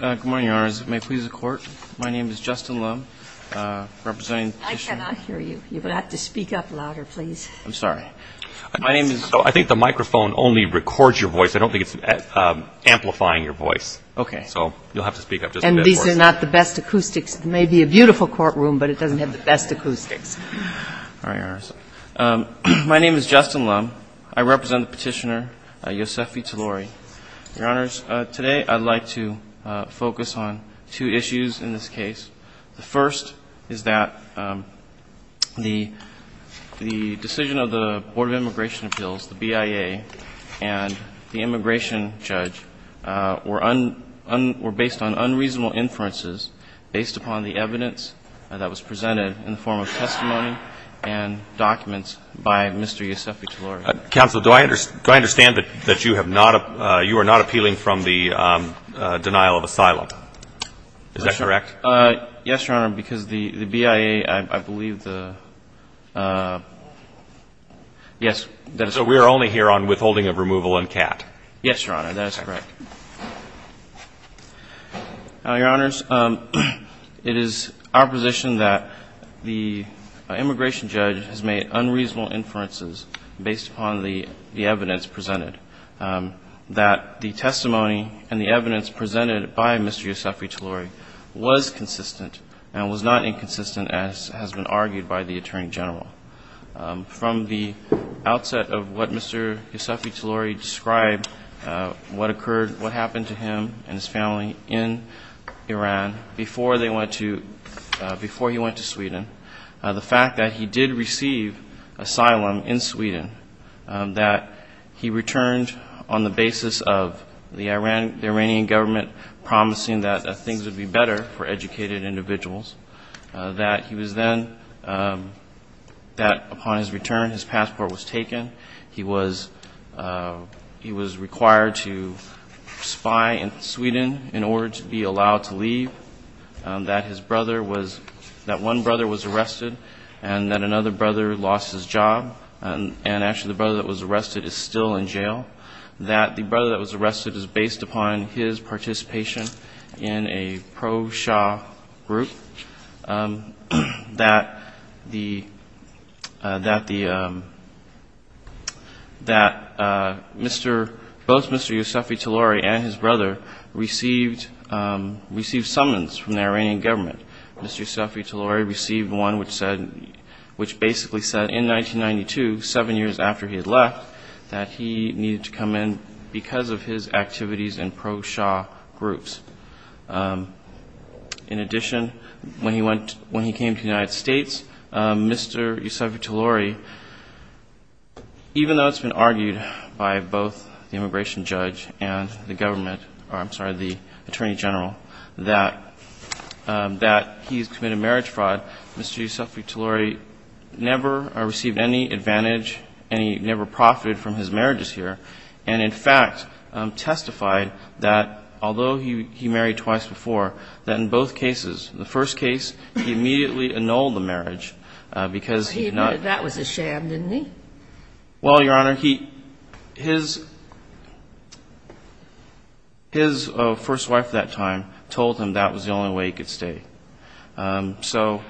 Good morning, Your Honors. May it please the Court, my name is Justin Loeb, representing the petitioner. I cannot hear you. You will have to speak up louder, please. I'm sorry. My name is- I think the microphone only records your voice. I don't think it's amplifying your voice. Okay. So you'll have to speak up just a bit for us. And these are not the best acoustics. It may be a beautiful courtroom, but it doesn't have the best acoustics. My name is Justin Loeb. I represent the petitioner, Yosefi-Talouri. Your Honors, today I'd like to focus on two issues in this case. The first is that the decision of the Board of Immigration Appeals, the BIA, and the immigration judge were based on unreasonable inferences based upon the evidence that was presented in the form of testimony and documents by Mr. Yosefi-Talouri. Counsel, do I understand that you have not- you are not appealing from the denial of asylum? Is that correct? Yes, Your Honor, because the BIA, I believe the- yes. So we are only here on withholding of removal and cat. Yes, Your Honor, that is correct. Your Honors, it is our position that the immigration judge has made unreasonable inferences based upon the evidence presented, that the testimony and the evidence presented by Mr. Yosefi-Talouri was consistent and was not inconsistent as has been argued by the Attorney General. From the outset of what Mr. Yosefi-Talouri described, what occurred, what happened to him and his family in Iran before they went to- before he went to Sweden, the fact that he did receive asylum in Sweden, that he returned on the basis of the Iranian government promising that things would be better for educated individuals, that he was then- that upon his return, his passport was taken, he was- he was required to spy in Sweden in order to be allowed to leave, that his brother was- that one brother was arrested and that another brother lost his job, and actually the brother that was arrested is still in jail, that the in a pro-Shah group, that the- that the- that Mr.- both Mr. Yosefi-Talouri and his brother received- received summons from the Iranian government. Mr. Yosefi-Talouri received one which said- which basically said in 1992, seven years after he had left, that he needed to come in because of his activities in pro-Shah groups. In addition, when he went- when he came to the United States, Mr. Yosefi-Talouri, even though it's been argued by both the immigration judge and the government, or I'm sorry, the Attorney General, that- that he's committed marriage fraud, Mr. Yosefi-Talouri never received any advantage, any- never profited from his marriage, and in fact testified that although he- he married twice before, that in both cases, the first case, he immediately annulled the marriage because he did not- But he admitted that was a sham, didn't he? Well, Your Honor, he- his- his first wife at that time told him that was the only way he could stay. So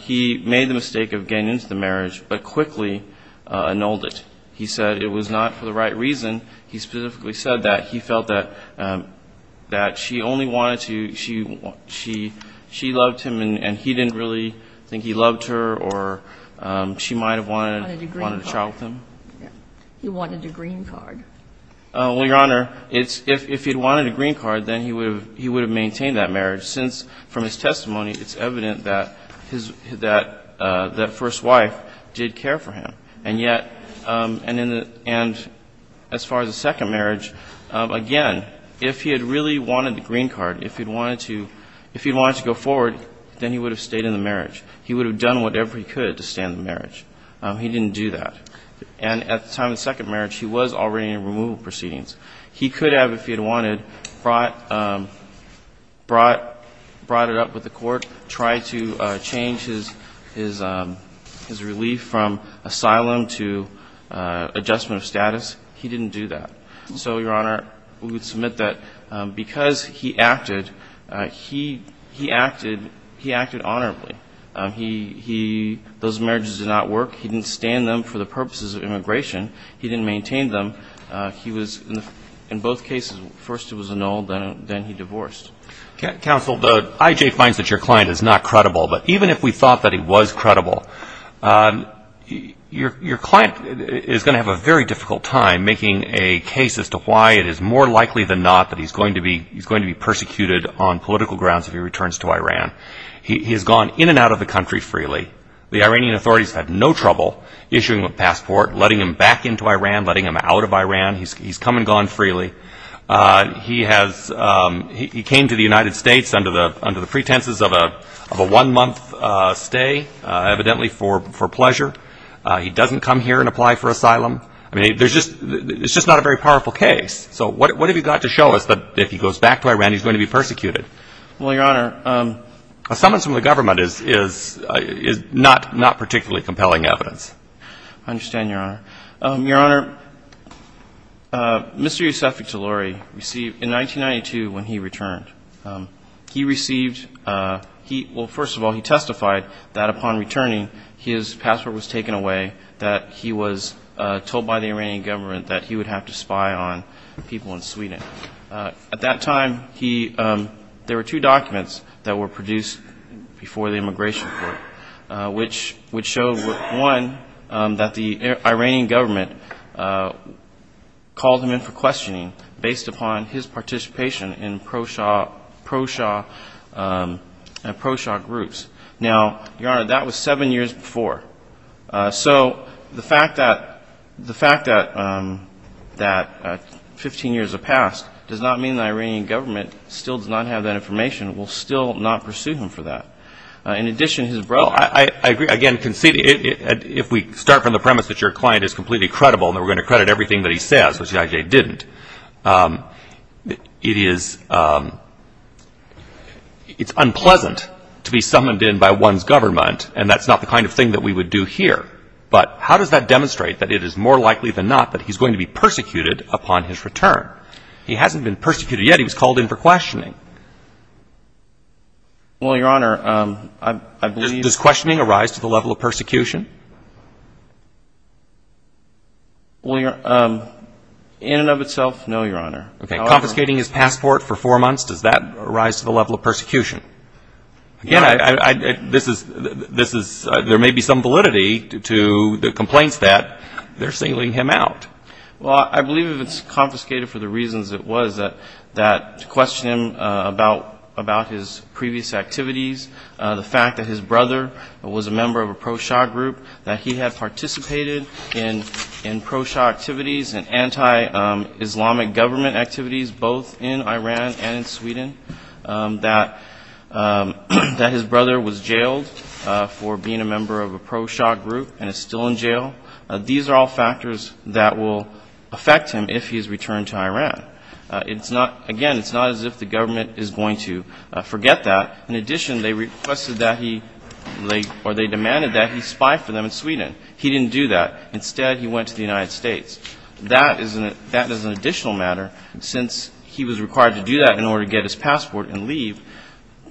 he made the mistake of getting into the marriage, but quickly annulled it. He said it was not for the right reason. He specifically said that he felt that- that she only wanted to- she- she- she loved him and- and he didn't really think he loved her or she might have wanted- He wanted a green card. Wanted a child with him. Yeah. He wanted a green card. Well, Your Honor, it's- if- if he'd wanted a green card, then he would have- he would have maintained that marriage since from his testimony, it's evident that his- that- that his wife did care for him. And yet- and in the- and as far as the second marriage, again, if he had really wanted the green card, if he'd wanted to- if he'd wanted to go forward, then he would have stayed in the marriage. He would have done whatever he could to stay in the marriage. He didn't do that. And at the time of the second marriage, he was already in removal proceedings. He could have, if he had wanted, brought- brought- brought it up with the court, tried to change his- his- his relief from asylum to adjustment of status. He didn't do that. So, Your Honor, we would submit that because he acted, he- he acted- he acted honorably. He- he- those marriages did not work. He didn't stand them for the purposes of immigration. He didn't maintain them. He was- in both cases, first it was annulled, then- then he divorced. Counsel, the IJ finds that your client is not credible, but even if we thought that he was credible, your- your client is going to have a very difficult time making a case as to why it is more likely than not that he's going to be- he's going to be persecuted on political grounds if he returns to Iran. He- he has gone in and out of the country freely. The Iranian authorities had no trouble issuing him a passport, letting him back into Iran, letting him out of Iran. He's- he's come and gone freely. He has- he- he came to the United States under the- under the pretenses of a- of a one-month stay, evidently for- for pleasure. He doesn't come here and apply for asylum. I mean, there's just- it's just not a very powerful case. So, what- what have you got to show us that if he goes back to Iran, he's going to be persecuted? Well, Your Honor- A summons from the government is- is- is not- not particularly compelling evidence. I understand, Your Honor. Your Honor, Mr. Youssefi Talouri received- in 1992, when he returned, he received- he- well, first of all, he testified that upon returning, his passport was taken away, that he was told by the Iranian government that he would have to spy on people in Sweden. At that time, he- there were two documents that were produced before the immigration court, which- which showed, one, that the Iranian government called him in for questioning based upon his participation in pro-shah- pro-shah- pro-shah groups. Now, Your Honor, that was seven years before. So, the fact that- the fact that- that 15 years have passed does not mean the Iranian government still does not have that information and will still not pursue him for that. In addition, his brother- If we start from the premise that your client is completely credible and that we're going to credit everything that he says, which he actually didn't, it is- it's unpleasant to be summoned in by one's government and that's not the kind of thing that we would do here. But how does that demonstrate that it is more likely than not that he's going to be persecuted upon his return? He hasn't been persecuted yet. He was called in for questioning. Well, Your Honor, I- I believe- Does questioning arise to the level of persecution? Well, Your- in and of itself, no, Your Honor. Okay. Confiscating his passport for four months, does that arise to the level of persecution? Again, I- I- this is- this is- there may be some validity to the complaints that they're sealing him out. Well, I believe if it's confiscated for the reasons it was that- that to question him about- about his previous activities, the fact that his brother was a member of a pro-Shah group, that he had participated in- in pro-Shah activities and anti-Islamic government activities, both in Iran and in Sweden, that- that his brother was jailed for being a member of a pro-Shah group and is still in jail, these are all factors that will affect him if he is returned to Iran. It's not- again, it's not as if the government is going to forget that. In addition, they requested that he- they- or they demanded that he spy for them in Sweden. He didn't do that. Instead, he went to the United States. That is an- that is an additional matter. Since he was required to do that in order to get his passport and leave,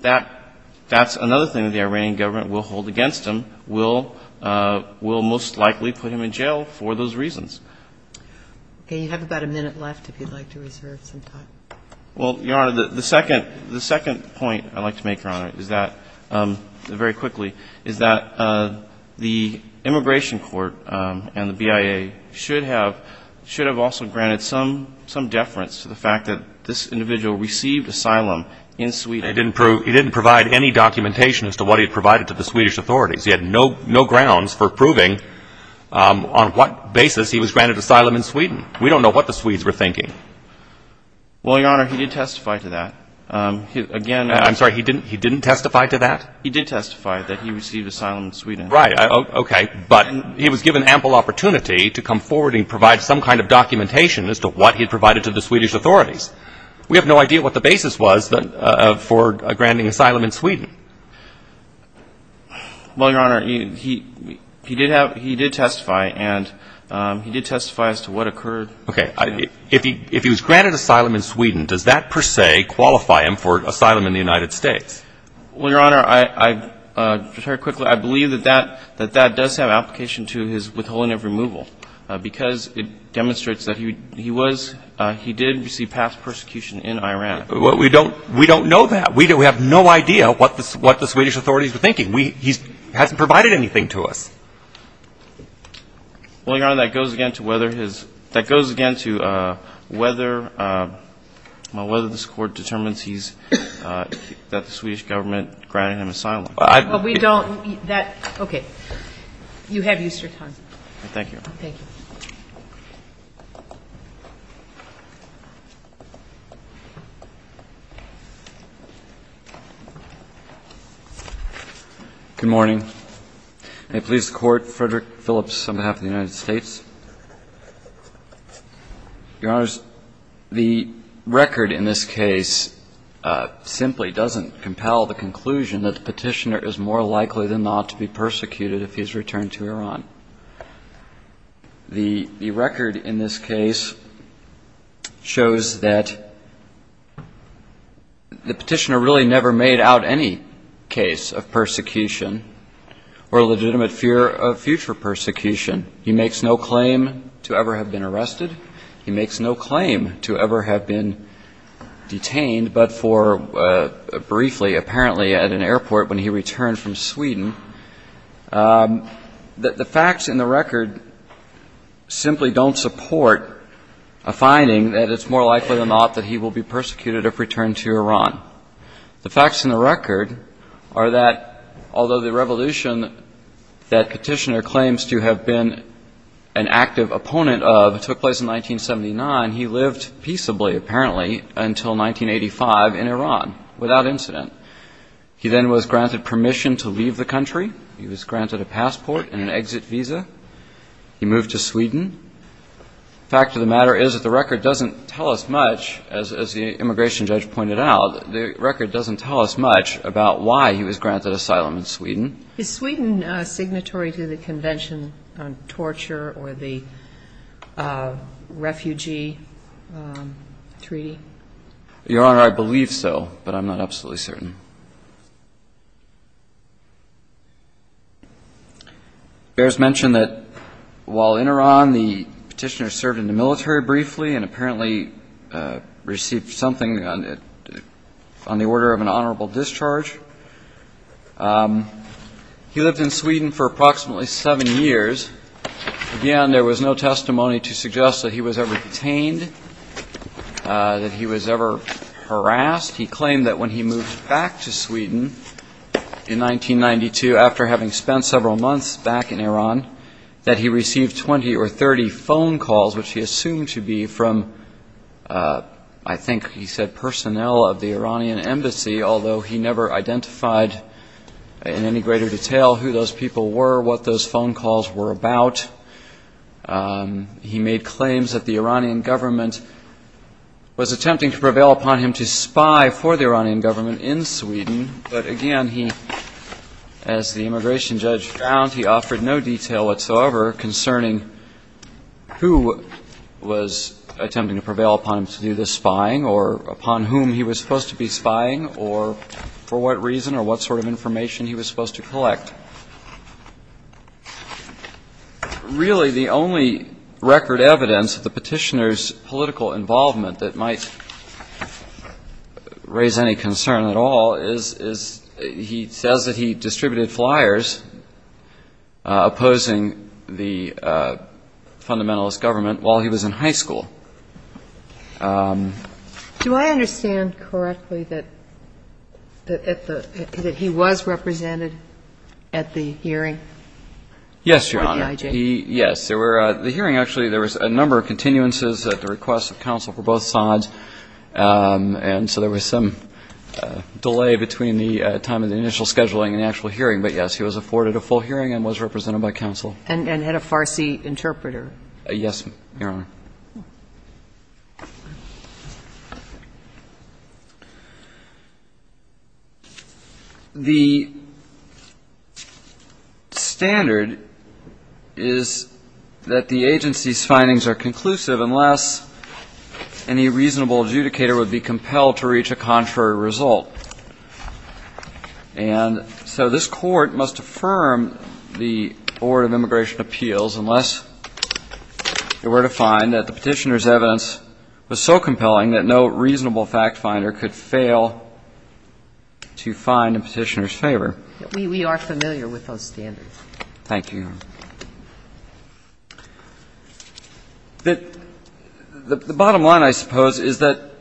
that- that's another thing that the Iranian government will hold against him, will- will most likely put him in jail for those reasons. Okay. You have about a minute left if you'd like to reserve some time. Well, Your Honor, the- the second- the second point I'd like to make, Your Honor, is that- very quickly- is that the immigration court and the BIA should have- should have also granted some- some deference to the fact that this individual received asylum in Sweden. He didn't prove- he didn't provide any documentation as to what he provided to the Swedish authorities. He had no- no grounds for proving on what basis he was granted asylum in Sweden. We don't know what the Swedes were thinking. Well, Your Honor, he did testify to that. Again- I'm sorry. He didn't- he didn't testify to that? He did testify that he received asylum in Sweden. Right. Okay. But he was given ample opportunity to come forward and provide some kind of documentation as to what he provided to the Swedish authorities. We have no idea what the basis was for granting asylum in Sweden. Well, Your Honor, he- he did have- he did testify and he did testify as to what occurred. Okay. If he- if he was granted asylum in Sweden, does that per se qualify him for asylum in the United States? Well, Your Honor, I- I- very quickly, I believe that that- that that does have application to his withholding of removal because it demonstrates that he- he was- he did receive past persecution in Iran. Well, we don't- we don't know that. We don't- we have no idea what the- what the Swedish authorities were thinking. We- he hasn't provided anything to us. Well, Your Honor, that goes again to whether his- that goes again to whether- whether this Court determines he's- that the Swedish government granted him asylum. Well, we don't- that- okay. You have Easter time. Thank you. Thank you. Good morning. May it please the Court, Frederick Phillips on behalf of the United States. Your Honors, the record in this case simply doesn't compel the conclusion that the petitioner is more likely than not to be persecuted if he's returned to Iran. The- the record in this case shows that the petitioner really never made out any case of persecution or legitimate fear of future persecution. He makes no claim to ever have been arrested. He makes no claim to ever have been detained, but for briefly, apparently, at an airport when he returned from Sweden, that the facts in the record simply don't support a finding that it's more likely than not that he will be persecuted if returned to Iran. The facts in the record are that although the revolution that petitioner claims to have been an active opponent of took place in 1979, he lived peaceably, apparently, until 1985 in Iran without incident. He then was granted permission to leave the country. He was granted a passport and an exit visa. He moved to Sweden. The fact of the matter is that the record doesn't tell us much, as the immigration judge pointed out, the record doesn't tell us much about why he was granted asylum in Sweden. Is Sweden signatory to the Convention on Torture or the Refugee Treaty? Your Honor, I believe so, but I'm not absolutely certain. Bears mentioned that while in Iran, the petitioner served in the military briefly and apparently received something on the order of an honorable discharge. He lived in Sweden for approximately seven years. Again, there was no testimony to suggest that he was ever detained, that he was ever harassed. He claimed that when he moved back to Sweden in 1992, after having spent several months back in Iran, that he received 20 or 30 phone calls, which he assumed to be from, I think he said personnel of the Iranian embassy, although he never identified in any greater detail who those people were, what those phone calls were about. He made claims that the Iranian government was attempting to prevail upon him to spy for the Iranian government in Sweden, but again, as the immigration judge found, he offered no detail whatsoever concerning who was attempting to prevail upon him to do this spying or upon whom he was supposed to be spying or for what reason or what sort of information he was supposed to collect. Really, the only record evidence of the petitioner's political involvement that might raise any concern at all is he says that he distributed flyers opposing the fundamentalist government while he was in high school. Do I understand correctly that he was represented at the hearing? Yes, Your Honor. Yes. The hearing, actually, there was a number of continuances at the request of counsel for both sides, and so there was some delay between the time of the initial scheduling and the actual hearing, but yes, he was afforded a full hearing and was represented by counsel. And had a Farsi interpreter. Yes, Your Honor. The standard is that the agency's findings are conclusive unless any reasonable adjudicator would be compelled to reach a contrary result. And so this court must affirm the Board of Immigration Appeals unless they were to find that the petitioner's evidence was so compelling that no reasonable fact finder could fail to find the petitioner's favor. We are familiar with those standards. Thank you, Your Honor. The bottom line, I suppose, is that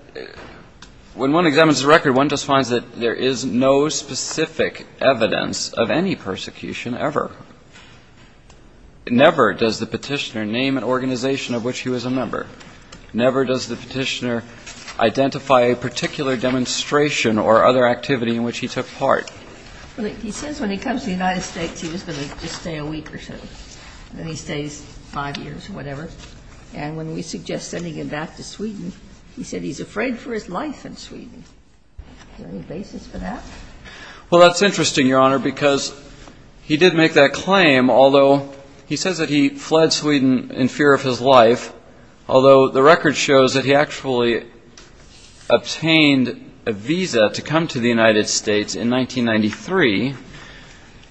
when one examines the record, one just finds that there is no specific evidence of any persecution ever. Never does the petitioner name an organization of which he was a member. Never does the petitioner identify a particular demonstration or other activity in which he took part. Well, he says when he comes to the United States, he was going to just stay a week or so, and then he stays five years or whatever. And when we suggest sending him back to Sweden, he said he's afraid for his life in Sweden. Is there any basis for that? Well, that's interesting, Your Honor, because he did make that claim, although he says that he fled Sweden in fear of his life, although the record shows that he actually obtained a visa to come to the United States in 1993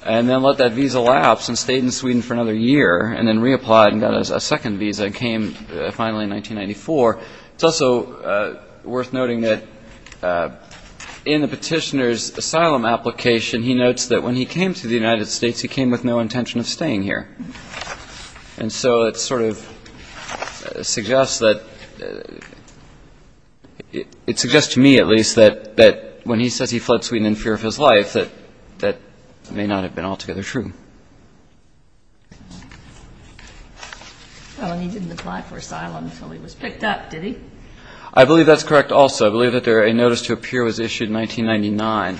and then let that visa lapse and stayed in Sweden for another year and then reapplied and got a second visa and came finally in 1994. It's also worth noting that in the petitioner's asylum application, he notes that when he came to the United States, he came with no intention of staying here. And so it sort of suggests that it suggests to me at least that when he says he fled Sweden in fear of his life, that that may not have been altogether true. Well, and he didn't apply for asylum until he was picked up, did he? I believe that's correct also. I believe that a notice to appear was issued in 1999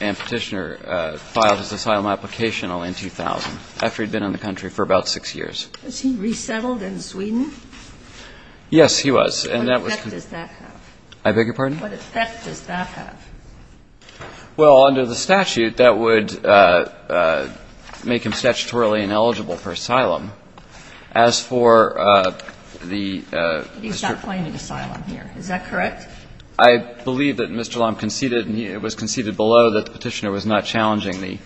and petitioner filed his asylum application only in 2000, after he'd been in the country for about six years. Was he resettled in Sweden? Yes, he was. What effect does that have? I beg your pardon? What effect does that have? Well, under the statute, that would make him statutorily ineligible for asylum. As for the Mr. He's not claiming asylum here. Is that correct? I believe that Mr. Lomb conceded and it was conceded below that the petitioner was not challenging the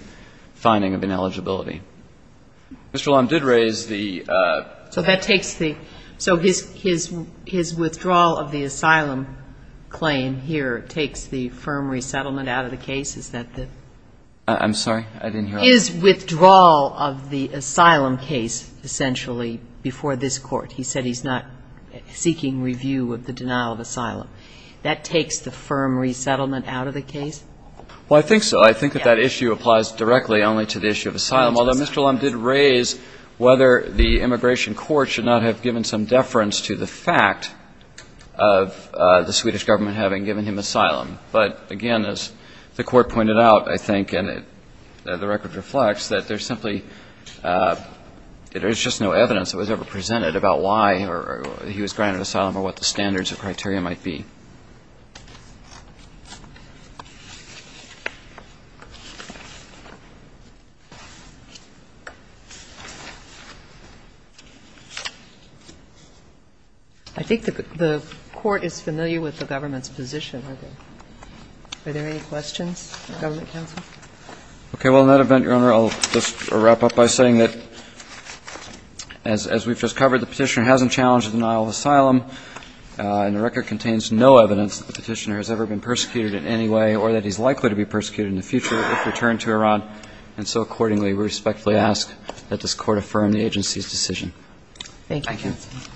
finding of ineligibility. Mr. Lomb did raise the So that takes the So his withdrawal of the asylum claim here takes the firm resettlement out of the case. Is that the I'm sorry. I didn't hear He said he's not seeking review of the denial of asylum. That takes the firm resettlement out of the case. Well, I think so. I think that that issue applies directly only to the issue of asylum. Although Mr. Lomb did raise whether the immigration court should not have given some deference to the fact of the Swedish government having given him asylum. But again, as the court pointed out, I think, and the record reflects, that there's simply there's just no evidence that was ever presented about why he was granted asylum or what the standards of criteria might be. I think the court is familiar with the government's position. Are there any questions? Okay. Well, in that event, Your Honor, I'll just wrap up by saying that as we've just covered, the petitioner hasn't challenged the denial of asylum, and the record contains no evidence that the petitioner has ever been persecuted in any way or that he's likely to be persecuted in the future if returned to Iran. And so accordingly, we respectfully ask that this court affirm the agency's decision. Thank you. Thank you.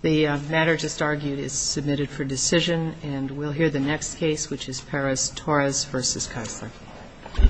The matter just argued is submitted for decision, and we'll hear the next case, which is Perez-Torres v. Keisler.